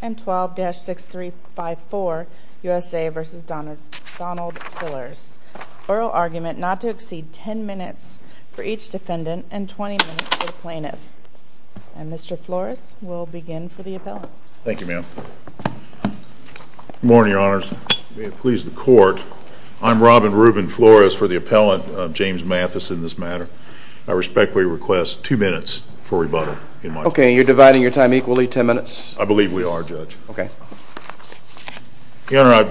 and 12-6354 U.S.A. v. Donald Fillers. Oral argument not to exceed 10 minutes for each defendant and 20 minutes for the plaintiff. And Mr. Flores, we'll begin for the appellant. Thank you, ma'am. Morning. Good morning, your honors. May it please the court, I'm Robin Rubin Flores for the appellant, James Mathis, in this matter. I respectfully request two minutes for rebuttal. Okay, you're dividing your time equally, 10 minutes? I believe we are, judge. Your honor,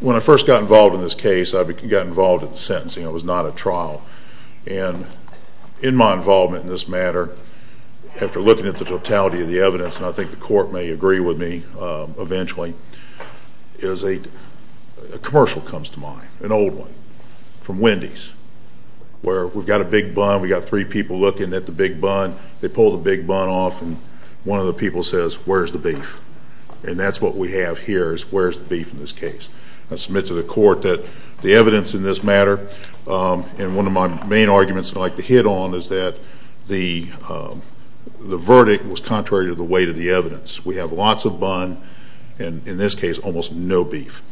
when I first got involved in this case, I got involved in the sentencing. It was not a trial. And in my involvement in this matter, after looking at the totality of the evidence, and I think the court may agree with me eventually, a commercial comes to mind, an old one, from Wendy's, where we've got a big bun, we've got three people looking at the big bun, they pull the big bun off, and one of the people says, where's the beef? And that's what we have here, is where's the beef in this case? I submit to the court that the evidence in this matter, and one of my main arguments I'd like to hit on is that the verdict was contrary to the weight of the evidence. We have lots of bun, and in this case, almost no beef.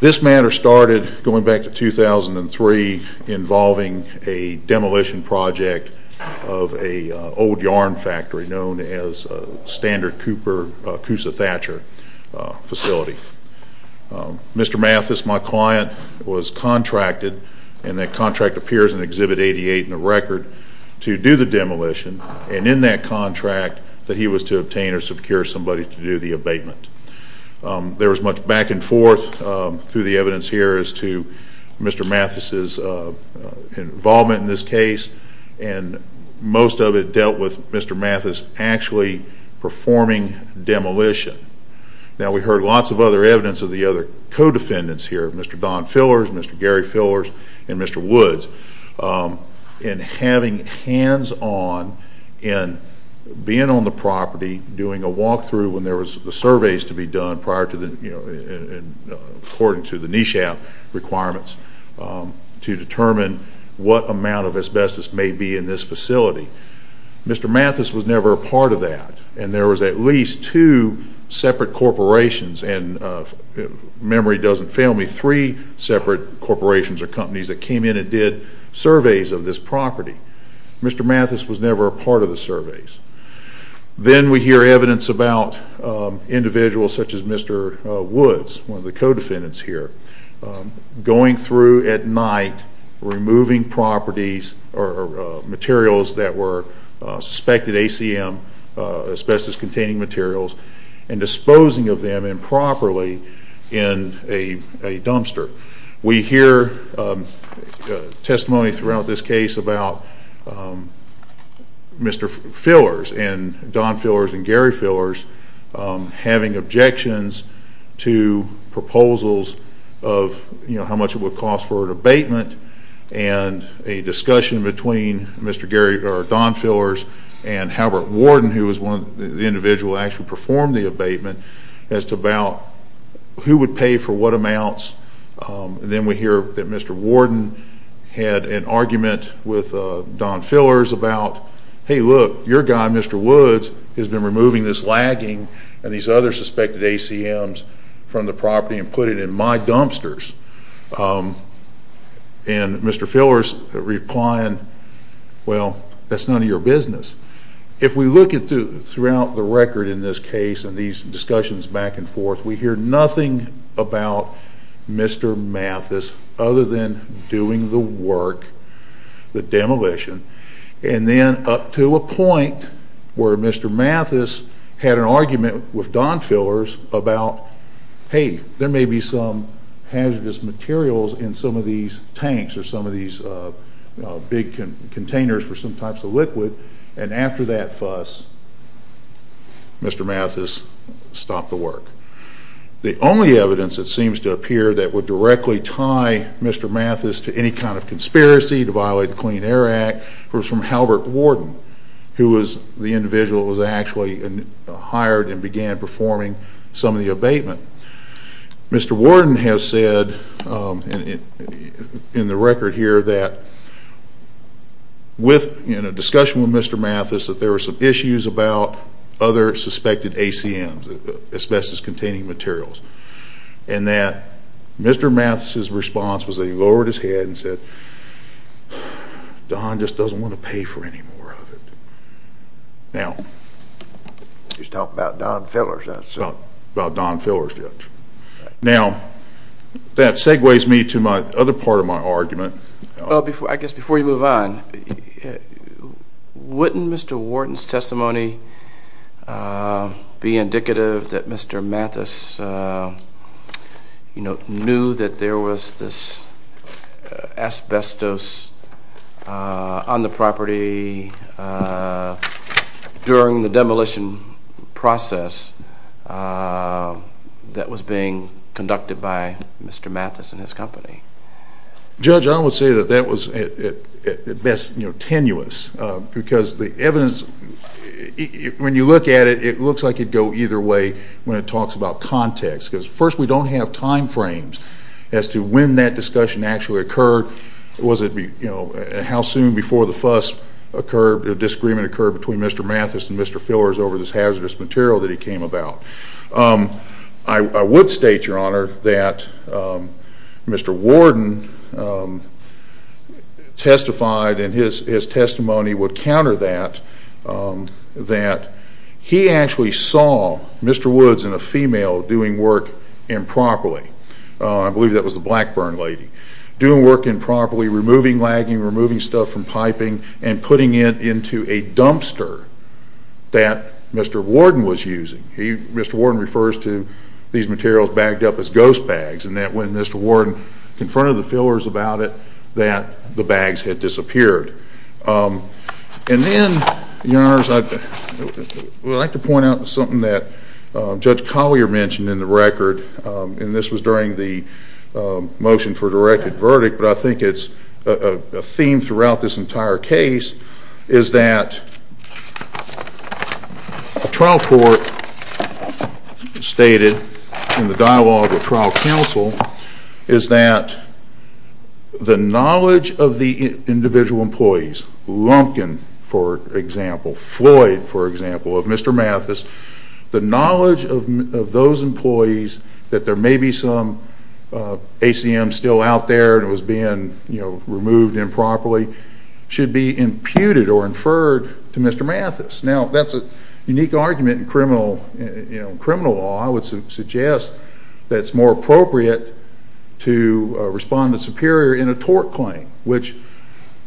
This matter started, going back to 2003, involving a demolition project of an old yarn factory known as Standard Cooper, Coosa-Thatcher facility. Mr. Mathis, my client, was contracted, and that contract appears in Exhibit 88 in the record, to do the demolition. And in that contract, that he was to obtain or secure somebody to do the abatement. There was much back and forth through the evidence here as to Mr. Mathis' involvement in this case, and most of it dealt with Mr. Mathis actually performing demolition. Now, we heard lots of other evidence of the other co-defendants here, Mr. Don Fillers, Mr. Gary Fillers, and Mr. Woods, and having hands-on, and being on the property, doing a walk-through when there was surveys to be done prior to the, according to the NESHAP requirements, to determine what amount of asbestos may be in this facility. Mr. Mathis was never a part of that, and there was at least two separate corporations, and memory doesn't fail me, three separate corporations or companies that came in and did surveys of this property. Mr. Mathis was never a part of the surveys. Then we hear evidence about individuals such as Mr. Woods, one of the co-defendants here, going through at night, removing properties or materials that were suspected ACM, asbestos-containing materials, and disposing of them improperly in a dumpster. We hear testimony throughout this case about Mr. Fillers, and Don Fillers, and Gary Fillers, having objections to proposals of how much it would cost for abatement, and a discussion between Don Fillers and Halbert Warden, who was one of the individuals who actually performed the abatement, as to about who would pay for what amounts. Then we hear that Mr. Warden had an argument with Don Fillers about, hey, look, your guy, Mr. Woods, has been removing this lagging and these other suspected ACMs from the property and put it in my dumpsters. And Mr. Fillers replying, well, that's none of your business. If we look throughout the record in this case and these discussions back and forth, we hear nothing about Mr. Mathis other than doing the work, the demolition, and then up to a point where Mr. Mathis had an argument with Don Fillers about, hey, there may be some hazardous materials in some of these tanks or some of these big containers for some types of liquid, and after that fuss, Mr. Mathis stopped the work. The only evidence, it seems to appear, that would directly tie Mr. Mathis to any kind of conspiracy to violate the Clean Air Act was from Halbert Warden, who was the individual who was actually hired and began performing some of the abatement. Mr. Warden has said in the record here that, in a discussion with Mr. Mathis, that there were some issues about other suspected ACMs, asbestos-containing materials, and that Mr. Mathis's response was that he lowered his head and said, Don just doesn't want to pay for any more of it. Now, he's talking about Don Fillers, that's all. About Don Fillers, yes. Now, that segues me to my other part of my argument. I guess before you move on, wouldn't Mr. Warden's testimony be indicative that Mr. Mathis knew that there was this asbestos on the property during the demolition process that was being conducted by Mr. Mathis and his company? Judge, I would say that that was, at best, tenuous, because the evidence, when you look at it, it looks like it would go either way when it talks about context. Because, first, we don't have time frames as to when that discussion actually occurred. How soon before the fuss occurred, the disagreement occurred between Mr. Mathis and Mr. Fillers over this hazardous material that he came about. I would state, Your Honor, that Mr. Warden testified, and his testimony would counter that, that he actually saw Mr. Woods and a female doing work improperly. I believe that was the Blackburn lady. Doing work improperly, removing lagging, removing stuff from piping, and putting it into a dumpster that Mr. Warden was using. Mr. Warden refers to these materials bagged up as ghost bags, and that when Mr. Warden confronted the Fillers about it, that the bags had disappeared. And then, Your Honors, I'd like to point out something that Judge Collier mentioned in the record, and this was during the motion for a directed verdict, but I think it's a theme throughout this entire case, is that the trial court stated, in the dialogue with trial counsel, is that the knowledge of the individual employees, Lumpkin, for example, Floyd, for example, of Mr. Mathis, the knowledge of those employees, that there may be some ACM still out there that was being removed improperly, should be imputed or inferred to Mr. Mathis. Now, that's a unique argument in criminal law. I would suggest that it's more appropriate to respond to superior in a tort claim, which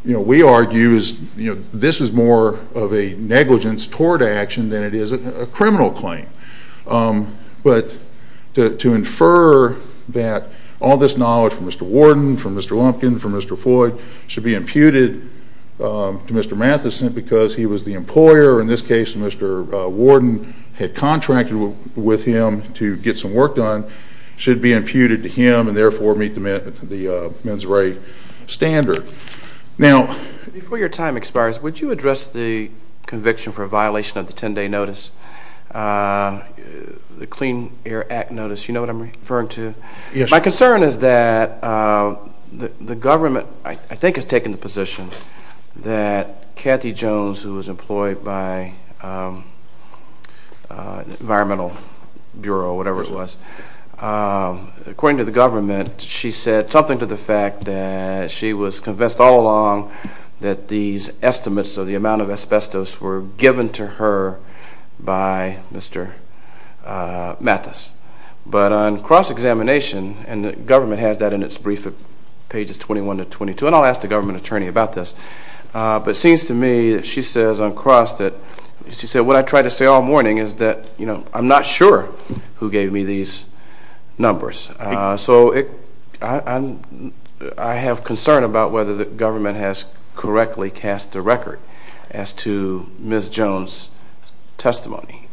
we argue this is more of a negligence tort action than it is a criminal claim. But to infer that all this knowledge from Mr. Warden, from Mr. Lumpkin, from Mr. Floyd, should be imputed to Mr. Mathis simply because he was the employer, or in this case Mr. Warden had contracted with him to get some work done, should be imputed to him and therefore meet the mens re standard. Now, before your time expires, would you address the conviction for a violation of the 10-day notice, the Clean Air Act notice, you know what I'm referring to? Yes. My concern is that the government, I think, has taken the position that Cathy Jones, who was employed by the Environmental Bureau or whatever it was, according to the government, she said something to the fact that she was convinced all along that these estimates of the amount of asbestos were given to her by Mr. Mathis. But on cross-examination, and the government has that in its brief at pages 21 to 22, and I'll ask the government attorney about this, but it seems to me that she says on cross that, what I try to say all morning is that I'm not sure who gave me these numbers. So I have concern about whether the government has correctly cast a record as to Ms. Jones' testimony.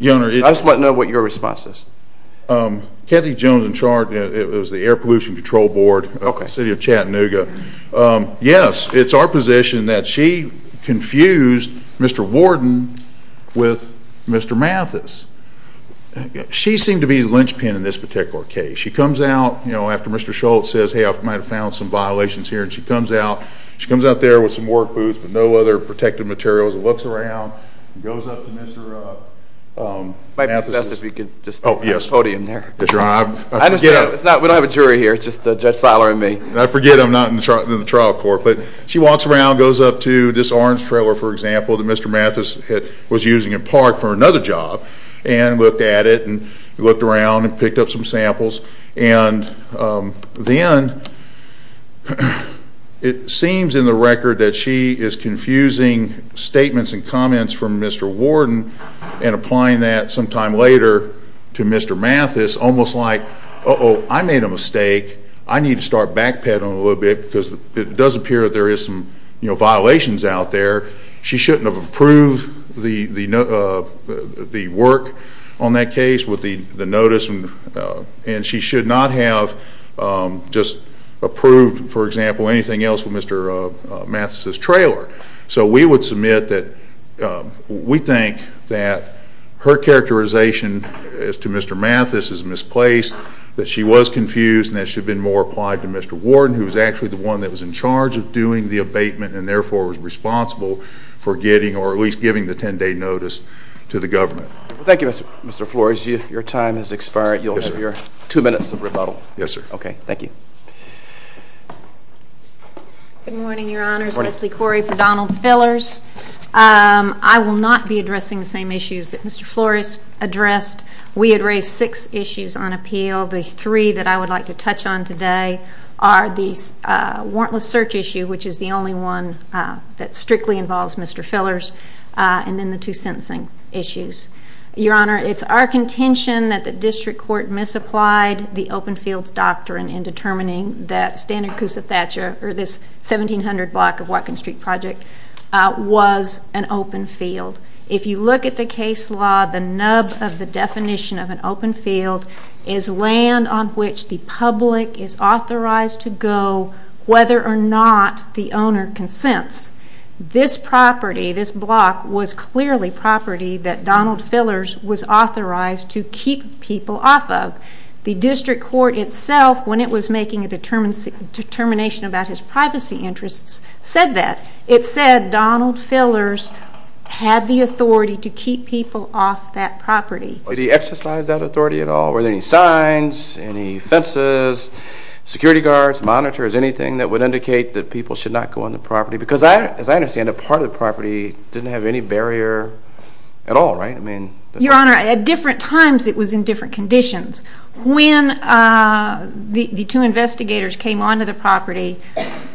I just want to know what your response is. Cathy Jones, in charge, it was the Air Pollution Control Board of the City of Chattanooga. Yes, it's our position that she confused Mr. Warden with Mr. Mathis. She seemed to be the linchpin in this particular case. She comes out after Mr. Schultz says, hey, I might have found some violations here, and she comes out there with some work boots but no other protective materials, looks around, goes up to Mr. Mathis. It might be best if we could just have a podium there. We don't have a jury here, it's just Judge Seiler and me. I forget I'm not in the trial court. But she walks around, goes up to this orange trailer, for example, that Mr. Mathis was using at Park for another job and looked at it and looked around and picked up some samples. And then it seems in the record that she is confusing statements and comments from Mr. Warden and applying that sometime later to Mr. Mathis, almost like, uh-oh, I made a mistake. I need to start backpedaling a little bit because it does appear that there is some violations out there. She shouldn't have approved the work on that case with the notice, and she should not have just approved, for example, anything else with Mr. Mathis's trailer. So we would submit that we think that her characterization as to Mr. Mathis is misplaced, that she was confused, and that it should have been more applied to Mr. Warden, who was actually the one that was in charge of doing the abatement and therefore was responsible for getting or at least giving the 10-day notice to the government. Thank you, Mr. Flores. Your time has expired. You'll have your two minutes of rebuttal. Yes, sir. Okay, thank you. Good morning, Your Honors. Leslie Corey for Donald Fillers. I will not be addressing the same issues that Mr. Flores addressed. We had raised six issues on appeal. The three that I would like to touch on today are the warrantless search issue, which is the only one that strictly involves Mr. Fillers, and then the two sentencing issues. Your Honor, it's our contention that the district court misapplied the open fields doctrine in determining that this 1700 block of Whatcom Street Project was an open field. If you look at the case law, the nub of the definition of an open field is land on which the public is authorized to go whether or not the owner consents. This property, this block, was clearly property that Donald Fillers was authorized to keep people off of. The district court itself, when it was making a determination about his privacy interests, said that. It said Donald Fillers had the authority to keep people off that property. Did he exercise that authority at all? Were there any signs, any fences, security guards, monitors, anything that would indicate that people should not go on the property? Because as I understand it, part of the property didn't have any barrier at all, right? Your Honor, at different times it was in different conditions. When the two investigators came onto the property,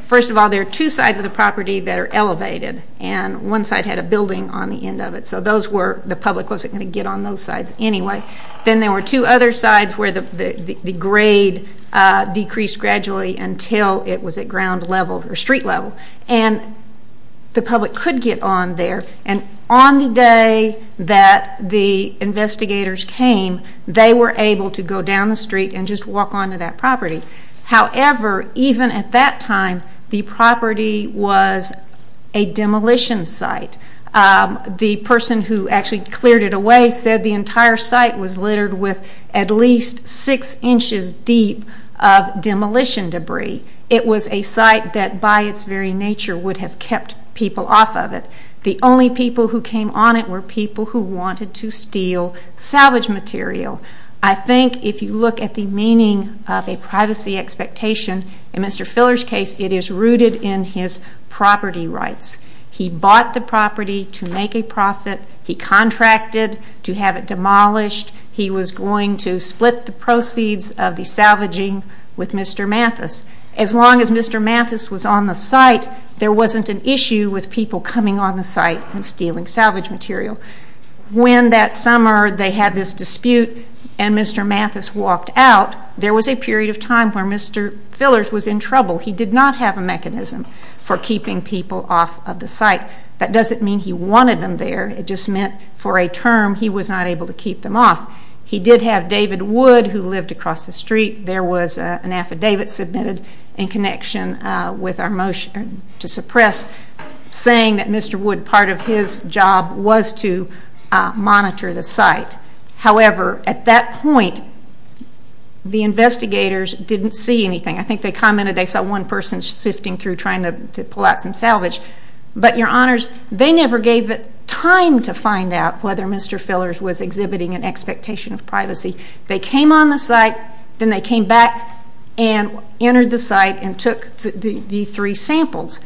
first of all, there are two sides of the property that are elevated, and one side had a building on the end of it. So the public wasn't going to get on those sides anyway. Then there were two other sides where the grade decreased gradually until it was at ground level or street level. And the public could get on there. And on the day that the investigators came, they were able to go down the street and just walk onto that property. However, even at that time, the property was a demolition site. The person who actually cleared it away said the entire site was littered with at least six inches deep of demolition debris. It was a site that by its very nature would have kept people off of it. The only people who came on it were people who wanted to steal salvage material. I think if you look at the meaning of a privacy expectation, in Mr. Filler's case it is rooted in his property rights. He bought the property to make a profit. He contracted to have it demolished. He was going to split the proceeds of the salvaging with Mr. Mathis. As long as Mr. Mathis was on the site, there wasn't an issue with people coming on the site and stealing salvage material. When that summer they had this dispute and Mr. Mathis walked out, there was a period of time where Mr. Fillers was in trouble. He did not have a mechanism for keeping people off of the site. That doesn't mean he wanted them there. It just meant for a term he was not able to keep them off. He did have David Wood who lived across the street. There was an affidavit submitted in connection with our motion to suppress saying that Mr. Wood, part of his job was to monitor the site. However, at that point, the investigators didn't see anything. I think they commented they saw one person sifting through trying to pull out some salvage. But, Your Honors, they never gave it time to find out whether Mr. Fillers was exhibiting an expectation of privacy. They came on the site. Then they came back and entered the site and took the three samples.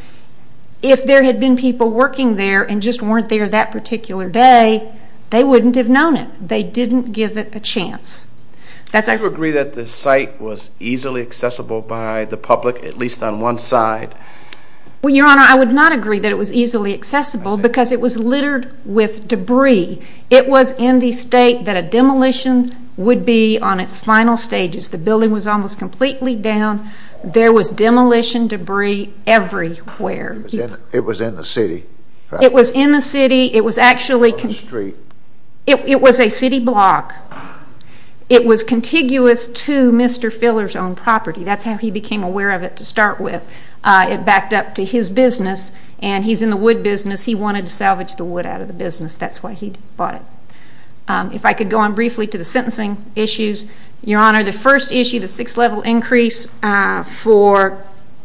If there had been people working there and just weren't there that particular day, they wouldn't have known it. They didn't give it a chance. Do you agree that the site was easily accessible by the public, at least on one side? Your Honor, I would not agree that it was easily accessible because it was littered with debris. It was in the state that a demolition would be on its final stages. The building was almost completely down. There was demolition debris everywhere. It was in the city, right? It was in the city. It was actually a city block. It was contiguous to Mr. Fillers' own property. That's how he became aware of it to start with. It backed up to his business. And he's in the wood business. He wanted to salvage the wood out of the business. That's why he bought it. If I could go on briefly to the sentencing issues. Your Honor, the first issue, the six-level increase for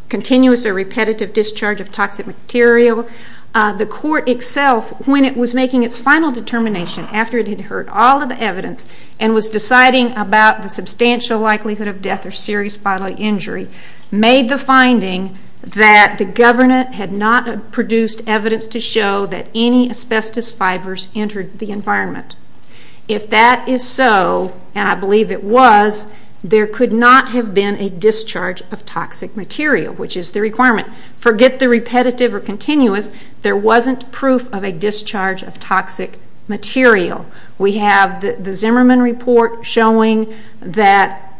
continuous or repetitive discharge of toxic material. The court itself, when it was making its final determination, after it had heard all of the evidence and was deciding about the substantial likelihood of death or serious bodily injury, made the finding that the government had not produced evidence to show that any asbestos fibers entered the environment. If that is so, and I believe it was, there could not have been a discharge of toxic material, which is the requirement. Forget the repetitive or continuous. There wasn't proof of a discharge of toxic material. We have the Zimmerman Report showing that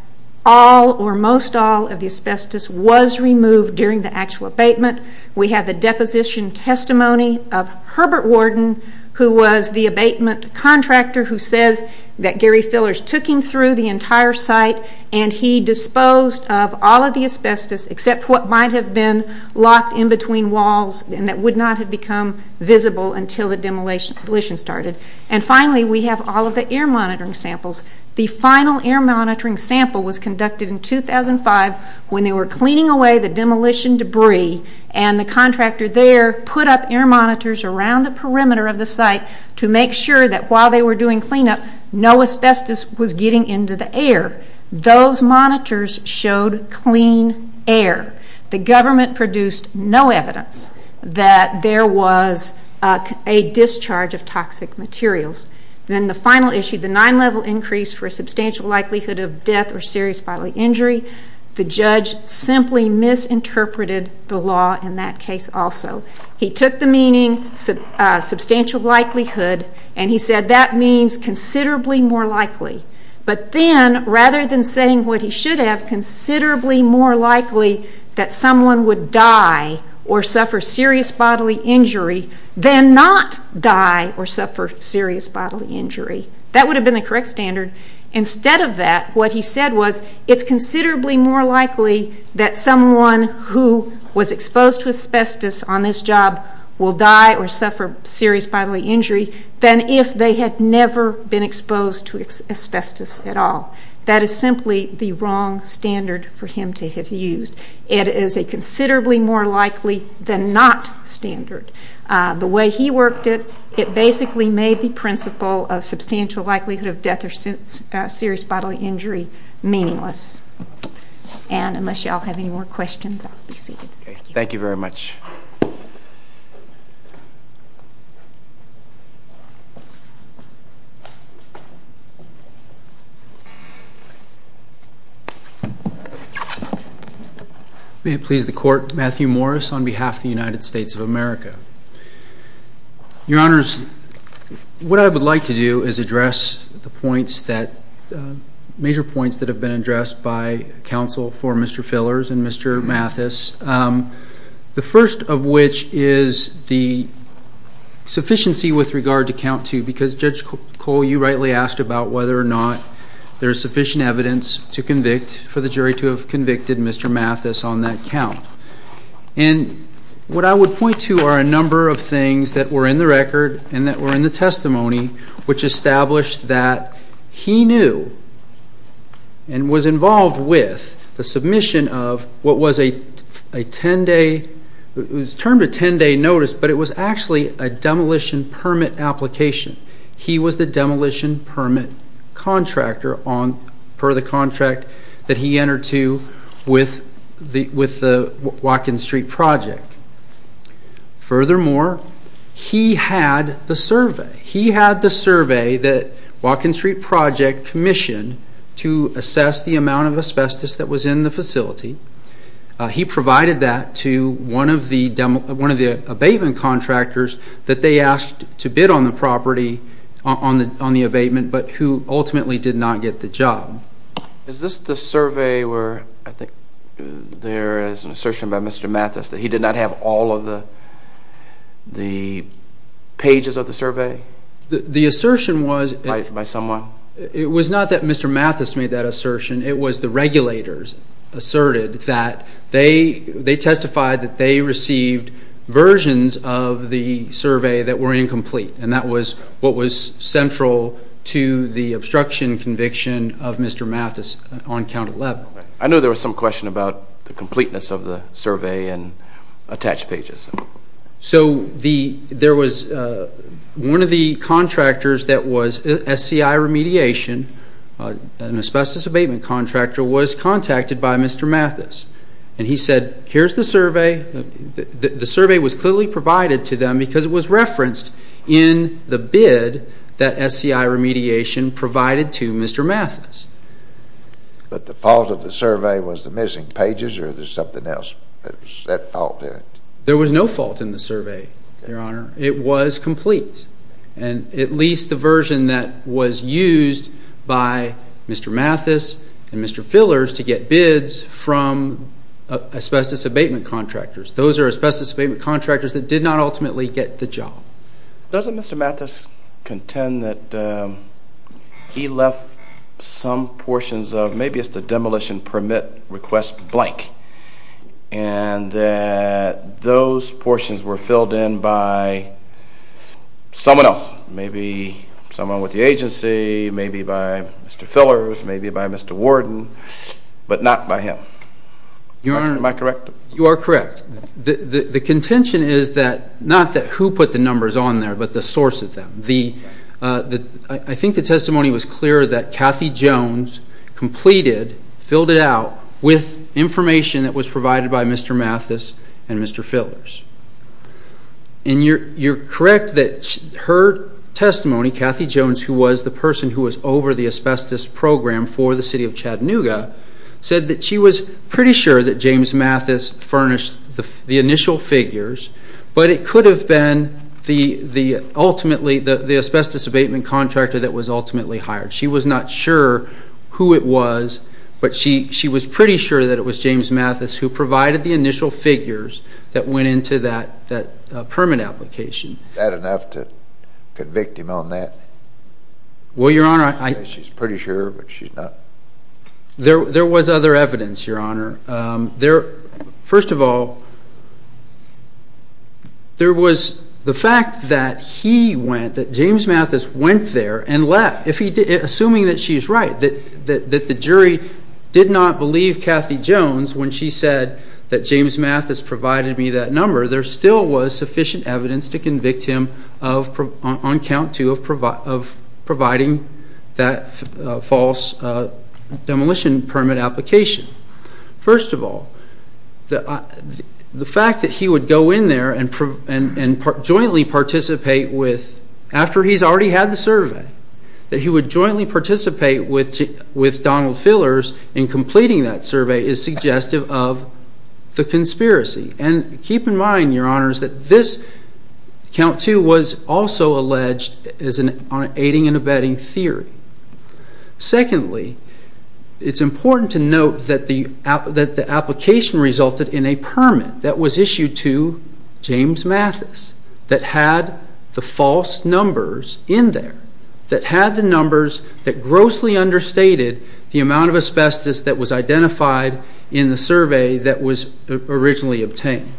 all or most all of the asbestos was removed during the actual abatement. We have the deposition testimony of Herbert Worden, who was the abatement contractor who says that Gary Fillers took him through the entire site and he disposed of all of the asbestos except what might have been locked in between walls and that would not have become visible until the demolition started. And finally, we have all of the air monitoring samples. The final air monitoring sample was conducted in 2005 when they were cleaning away the demolition debris and the contractor there put up air monitors around the perimeter of the site to make sure that while they were doing cleanup, no asbestos was getting into the air. Those monitors showed clean air. The government produced no evidence that there was a discharge of toxic materials. Then the final issue, the nine-level increase for a substantial likelihood of death or serious bodily injury, the judge simply misinterpreted the law in that case also. He took the meaning substantial likelihood and he said that means considerably more likely. But then, rather than saying what he should have, considerably more likely that someone would die or suffer serious bodily injury than not die or suffer serious bodily injury. That would have been the correct standard. Instead of that, what he said was it's considerably more likely that someone who was exposed to asbestos on this job will die or suffer serious bodily injury than if they had never been exposed to asbestos at all. That is simply the wrong standard for him to have used. It is a considerably more likely than not standard. The way he worked it, it basically made the principle of substantial likelihood of death or serious bodily injury meaningless. Unless you all have any more questions, I'll be seated. Thank you very much. May it please the Court, Matthew Morris on behalf of the United States of America. Your Honors, what I would like to do is address the points that, major points that have been addressed by counsel for Mr. Fillers and Mr. Mathis. The first of which is the sufficiency with regard to count two because Judge Cole, you rightly asked about whether or not there is sufficient evidence to convict for the jury to have convicted Mr. Mathis on that count. And what I would point to are a number of things that were in the record and that were in the testimony which established that he knew and was involved with the submission of what was a 10-day, it was termed a 10-day notice, but it was actually a demolition permit application. He was the demolition permit contractor per the contract that he entered to with the Watkins Street Project. Furthermore, he had the survey. He had the survey that Watkins Street Project commissioned to assess the amount of asbestos that was in the facility. He provided that to one of the abatement contractors that they asked to bid on the property on the abatement, but who ultimately did not get the job. Is this the survey where I think there is an assertion by Mr. Mathis that he did not have all of the pages of the survey? The assertion was... By someone? It was not that Mr. Mathis made that assertion. It was the regulators asserted that they testified that they received versions of the survey that were incomplete, and that was what was central to the obstruction conviction of Mr. Mathis on Count 11. I know there was some question about the completeness of the survey and attached pages. So there was one of the contractors that was SCI Remediation, an asbestos abatement contractor, was contacted by Mr. Mathis, and he said, here's the survey. The survey was clearly provided to them because it was referenced in the bid that SCI Remediation provided to Mr. Mathis. But the fault of the survey was the missing pages, or was there something else? There was no fault in the survey, Your Honor. It was complete, and at least the version that was used by Mr. Mathis and Mr. Fillers to get bids from asbestos abatement contractors. Those are asbestos abatement contractors that did not ultimately get the job. Doesn't Mr. Mathis contend that he left some portions of maybe it's the demolition permit request blank, and that those portions were filled in by someone else? Maybe someone with the agency, maybe by Mr. Fillers, maybe by Mr. Warden, but not by him. Am I correct? You are correct. The contention is not that who put the numbers on there, but the source of them. I think the testimony was clear that Kathy Jones completed, filled it out, with information that was provided by Mr. Mathis and Mr. Fillers. And you're correct that her testimony, Kathy Jones, who was the person who was over the asbestos program for the city of Chattanooga, said that she was pretty sure that James Mathis furnished the initial figures, but it could have been ultimately the asbestos abatement contractor that was ultimately hired. She was not sure who it was, but she was pretty sure that it was James Mathis who provided the initial figures that went into that permit application. Is that enough to convict him on that? Well, Your Honor, I... She's pretty sure, but she's not... There was other evidence, Your Honor. First of all, there was the fact that he went, that James Mathis went there and left, assuming that she's right, that the jury did not believe Kathy Jones when she said that James Mathis provided me that number. There still was sufficient evidence to convict him on count two of providing that false demolition permit application. First of all, the fact that he would go in there and jointly participate with, after he's already had the survey, that he would jointly participate with Donald Fillers in completing that survey is suggestive of the conspiracy. And keep in mind, Your Honors, that this, count two, was also alleged on an aiding and abetting theory. Secondly, it's important to note that the application resulted in a permit that was issued to James Mathis that had the false numbers in there, that had the numbers that grossly understated the amount of asbestos that was identified in the survey that was originally obtained.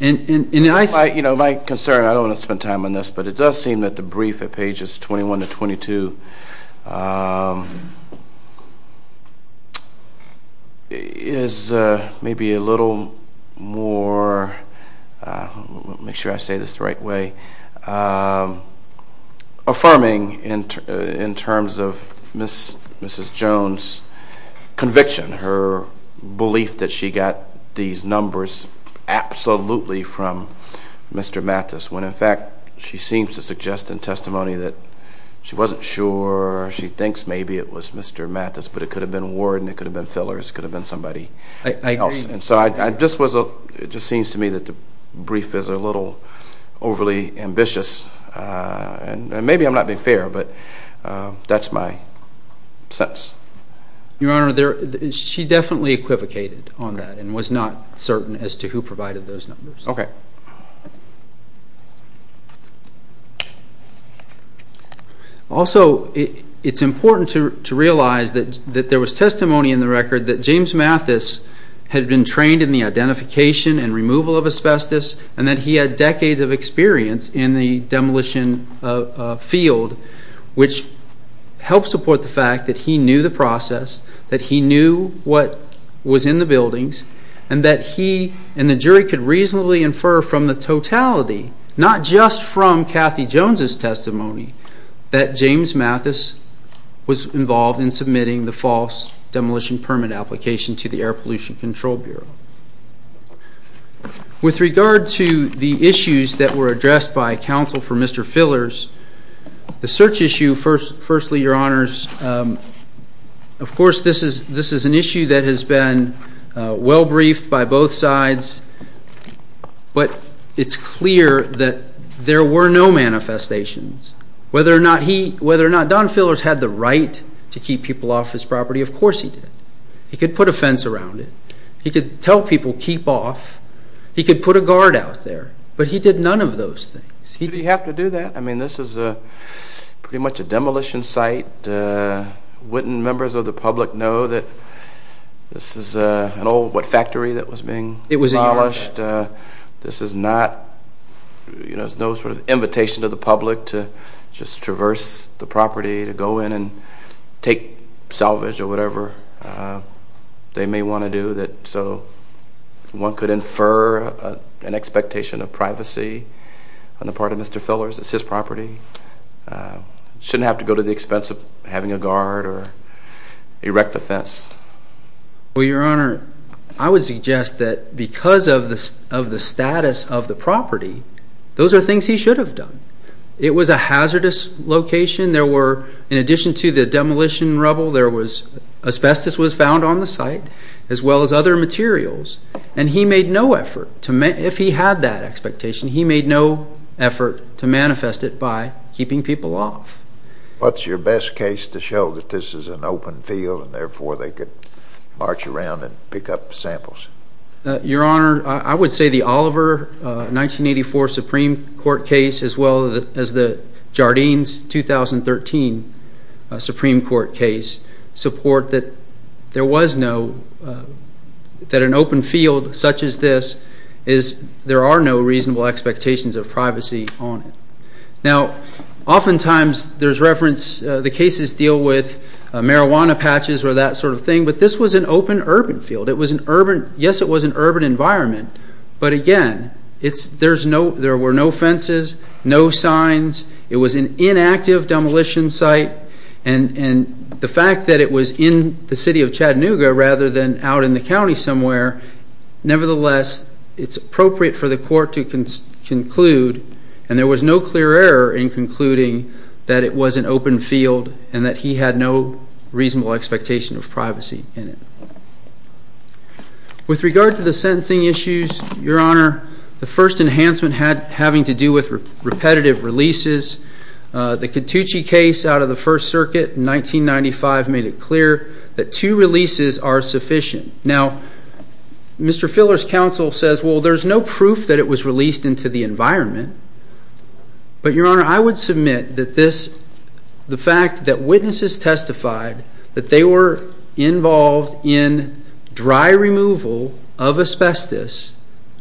My concern, I don't want to spend time on this, but it does seem that the brief at pages 21 to 22 is maybe a little more, make sure I say this the right way, affirming in terms of Mrs. Jones' conviction, her belief that she got these numbers absolutely from Mr. Mathis, when in fact she seems to suggest in testimony that she wasn't sure, she thinks maybe it was Mr. Mathis, but it could have been Warden, it could have been Fillers, it could have been somebody else. And so it just seems to me that the brief is a little overly ambitious, and maybe I'm not being fair, but that's my sense. Your Honor, she definitely equivocated on that and was not certain as to who provided those numbers. Also, it's important to realize that there was testimony in the record that James Mathis had been trained in the identification and removal of asbestos, and that he had decades of experience in the demolition field, which helped support the fact that he knew the process, that he knew what was in the buildings, and that he and the jury could reasonably infer from the totality, not just from Kathy Jones' testimony, that James Mathis was involved in submitting the false demolition permit application to the Air Pollution Control Bureau. With regard to the issues that were addressed by counsel for Mr. Fillers, the search issue, firstly, Your Honors, of course this is an issue that has been well-briefed by both sides, but it's clear that there were no manifestations. Whether or not Don Fillers had the right to keep people off his property, of course he did. He could put a fence around it. He could tell people, keep off. He could put a guard out there. But he did none of those things. Did he have to do that? I mean, this is pretty much a demolition site. Wouldn't members of the public know that this is an old, what, factory that was being demolished? This is not, you know, there's no sort of invitation to the public to just traverse the property, to go in and take salvage or whatever they may want to do. So one could infer an expectation of privacy on the part of Mr. Fillers. It's his property. Shouldn't have to go to the expense of having a guard or erect a fence. Well, Your Honor, I would suggest that because of the status of the property, those are things he should have done. It was a hazardous location. There were, in addition to the demolition rubble, there was, asbestos was found on the site, as well as other materials. And he made no effort, if he had that expectation, he made no effort to manifest it by keeping people off. What's your best case to show that this is an open field and therefore they could march around and pick up samples? Your Honor, I would say the Oliver 1984 Supreme Court case as well as the Jardines 2013 Supreme Court case support that there was no, that an open field such as this is, there are no reasonable expectations of privacy on it. Now, oftentimes there's reference, the cases deal with marijuana patches or that sort of thing, but this was an open urban field. It was an urban, yes, it was an urban environment, but again, there were no fences, no signs, it was an inactive demolition site, and the fact that it was in the city of Chattanooga rather than out in the county somewhere, nevertheless, it's appropriate for the court to conclude, and there was no clear error in concluding that it was an open field and that he had no reasonable expectation of privacy in it. With regard to the sentencing issues, Your Honor, the first enhancement having to do with repetitive releases, the Cattucci case out of the First Circuit in 1995 made it clear that two releases are sufficient. Now, Mr. Filler's counsel says, well, there's no proof that it was released into the environment, but, Your Honor, I would submit that this, the fact that witnesses testified that they were involved in dry removal of asbestos,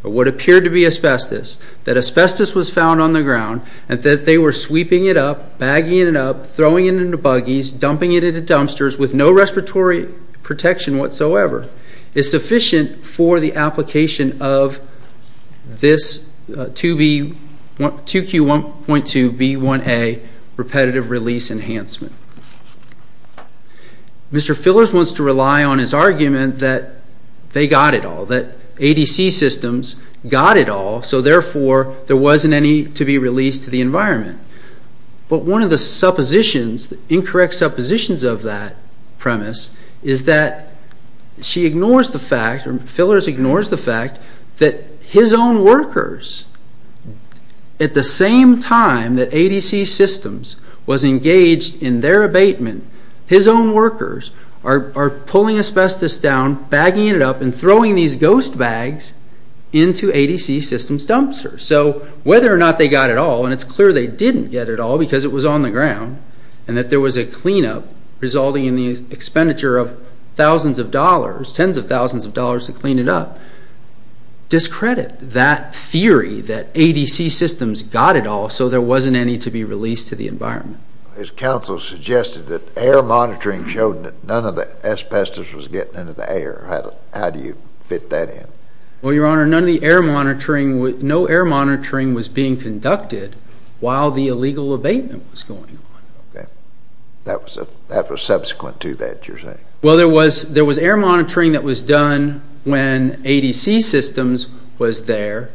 or what appeared to be asbestos, that asbestos was found on the ground and that they were sweeping it up, bagging it up, throwing it into buggies, dumping it into dumpsters with no respiratory protection whatsoever, is sufficient for the application of this 2Q1.2B1A repetitive release enhancement. Mr. Filler wants to rely on his argument that they got it all, that ADC systems got it all, so, therefore, there wasn't any to be released to the environment. But one of the suppositions, incorrect suppositions of that premise, is that she ignores the fact, or Fillers ignores the fact, that his own workers, at the same time that ADC systems was engaged in their abatement, his own workers are pulling asbestos down, bagging it up, and throwing these ghost bags into ADC systems dumpsters. So, whether or not they got it all, and it's clear they didn't get it all because it was on the ground, and that there was a clean-up resulting in the expenditure of thousands of dollars, tens of thousands of dollars to clean it up, discredit that theory that ADC systems got it all, so there wasn't any to be released to the environment. His counsel suggested that air monitoring showed that none of the asbestos was getting into the air. How do you fit that in? Well, Your Honor, none of the air monitoring, no air monitoring was being conducted while the illegal abatement was going on. That was subsequent to that, you're saying? Well, there was air monitoring that was done when ADC systems was there,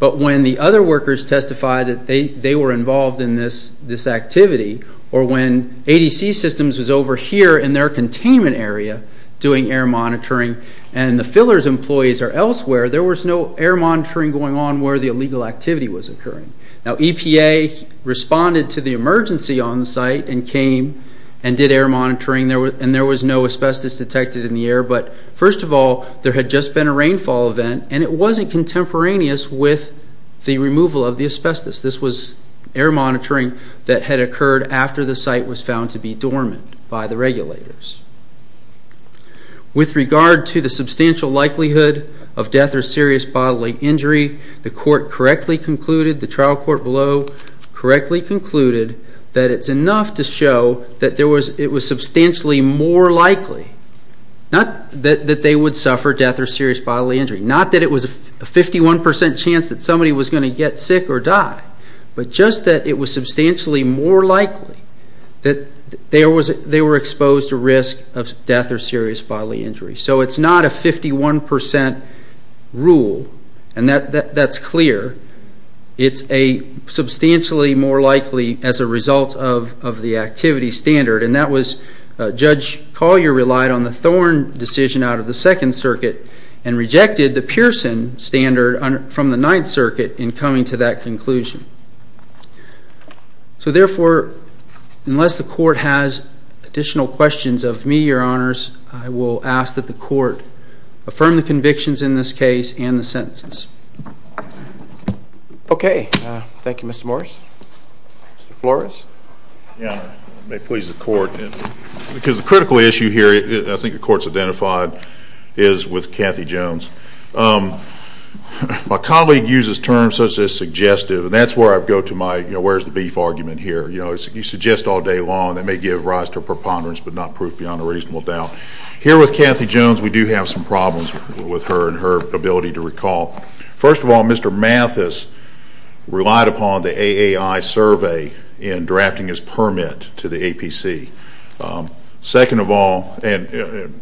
but when the other workers testified that they were involved in this activity, or when ADC systems was over here in their containment area doing air monitoring, and the fillers' employees are elsewhere, there was no air monitoring going on where the illegal activity was occurring. Now, EPA responded to the emergency on the site and came and did air monitoring, and there was no asbestos detected in the air, but first of all, there had just been a rainfall event, and it wasn't contemporaneous with the removal of the asbestos. This was air monitoring that had occurred after the site was found to be dormant by the regulators. With regard to the substantial likelihood of death or serious bodily injury, the court correctly concluded, the trial court below correctly concluded, that it's enough to show that it was substantially more likely, not that they would suffer death or serious bodily injury, not that it was a 51% chance that somebody was going to get sick or die, but just that it was substantially more likely that they were exposed to risk of death or serious bodily injury. So it's not a 51% rule, and that's clear. It's a substantially more likely as a result of the activity standard, and that was Judge Collier relied on the Thorn decision out of the Second Circuit and rejected the Pearson standard from the Ninth Circuit in coming to that conclusion. So therefore, unless the court has additional questions of me, Your Honors, I will ask that the court affirm the convictions in this case and the sentences. Okay. Thank you, Mr. Morris. Mr. Flores? Your Honor, it may please the court, because the critical issue here, I think the court's identified, is with Cathy Jones. My colleague uses terms such as suggestive, and that's where I go to my, you know, where's the beef argument here? You know, you suggest all day long, that may give rise to a preponderance, but not proof beyond a reasonable doubt. Here with Cathy Jones, we do have some problems with her and her ability to recall. First of all, Mr. Mathis relied upon the AAI survey in drafting his permit to the APC. Second of all, and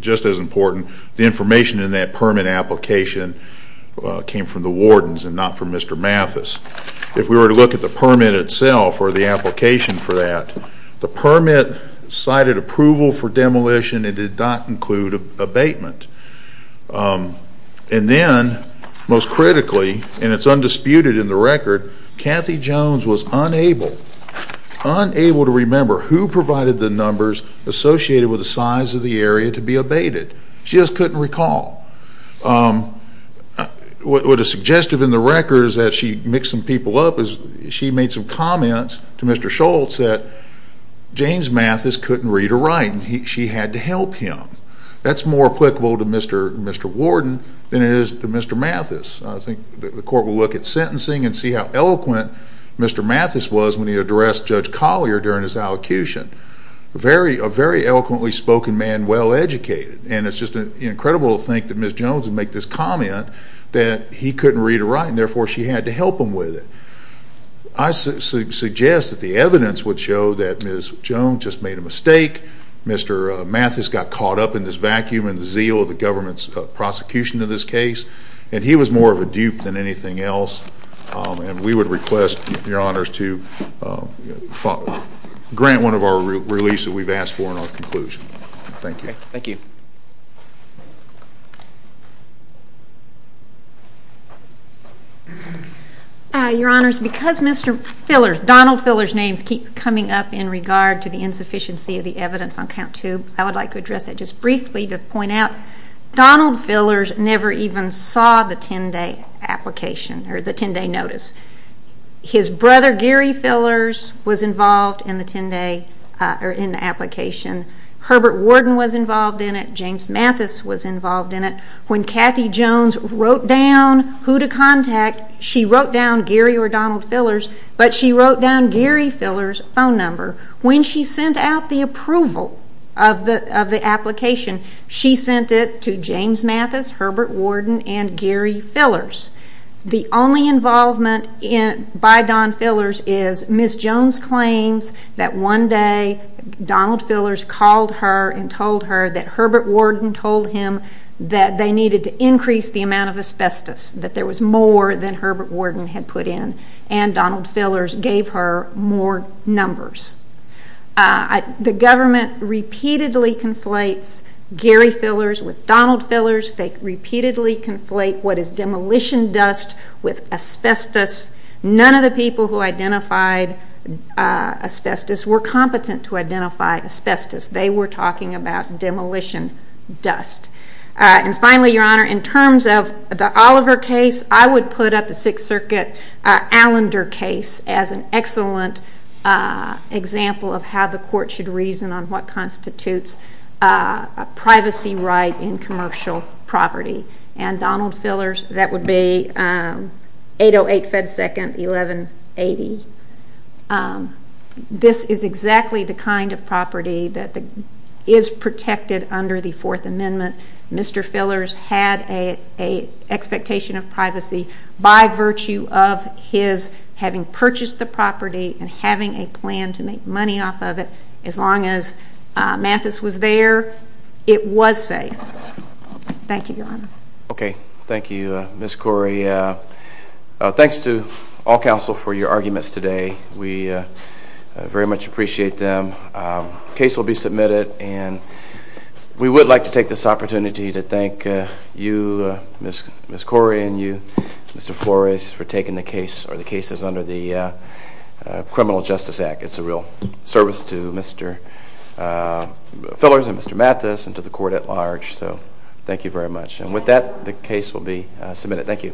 just as important, the information in that permit application came from the wardens and not from Mr. Mathis. If we were to look at the permit itself or the application for that, the permit cited approval for demolition and did not include abatement. And then, most critically, and it's undisputed in the record, Cathy Jones was unable to remember who provided the numbers associated with the size of the area to be abated. She just couldn't recall. What is suggestive in the record is that she mixed some people up. She made some comments to Mr. Schultz that James Mathis couldn't read or write, and she had to help him. That's more applicable to Mr. Warden than it is to Mr. Mathis. I think the court will look at sentencing and see how eloquent Mr. Mathis was when he addressed Judge Collier during his allocution. A very eloquently spoken man, well educated, and it's just incredible to think that Ms. Jones would make this comment that he couldn't read or write, and therefore she had to help him with it. I suggest that the evidence would show that Ms. Jones just made a mistake, Mr. Mathis got caught up in this vacuum and zeal of the government's prosecution of this case, and he was more of a dupe than anything else, and we would request, Your Honors, to grant one of our reliefs that we've asked for in our conclusion. Thank you. Thank you. Your Honors, because Donald Filler's name keeps coming up in regard to the insufficiency of the evidence on count two, I would like to address that just briefly to point out. Donald Fillers never even saw the 10-day application or the 10-day notice. His brother, Gary Fillers, was involved in the 10-day application. Herbert Worden was involved in it. James Mathis was involved in it. When Kathy Jones wrote down who to contact, she wrote down Gary or Donald Fillers, but she wrote down Gary Filler's phone number. When she sent out the approval of the application, she sent it to James Mathis, Herbert Worden, and Gary Fillers. The only involvement by Don Fillers is Ms. Jones claims that one day Donald Fillers called her and told her that Herbert Worden told him that they needed to increase the amount of asbestos, that there was more than Herbert Worden had put in, and Donald Fillers gave her more numbers. The government repeatedly conflates Gary Fillers with Donald Fillers. They repeatedly conflate what is demolition dust with asbestos. None of the people who identified asbestos were competent to identify asbestos. They were talking about demolition dust. Finally, Your Honor, in terms of the Oliver case, I would put up the Sixth Circuit Allender case as an excellent example of how the court should reason on what constitutes a privacy right in commercial property. Donald Fillers, that would be 808 Fed 2nd, 1180. This is exactly the kind of property that is protected under the Fourth Amendment. Mr. Fillers had an expectation of privacy by virtue of his having purchased the property and having a plan to make money off of it. As long as Mathis was there, it was safe. Thank you, Your Honor. Okay. Thank you, Ms. Corey. Thanks to all counsel for your arguments today. We very much appreciate them. The case will be submitted, and we would like to take this opportunity to thank you, Ms. Corey and you, Mr. Flores, for taking the case or the cases under the Criminal Justice Act. It's a real service to Mr. Fillers and Mr. Mathis and to the court at large, so thank you very much. And with that, the case will be submitted. Thank you.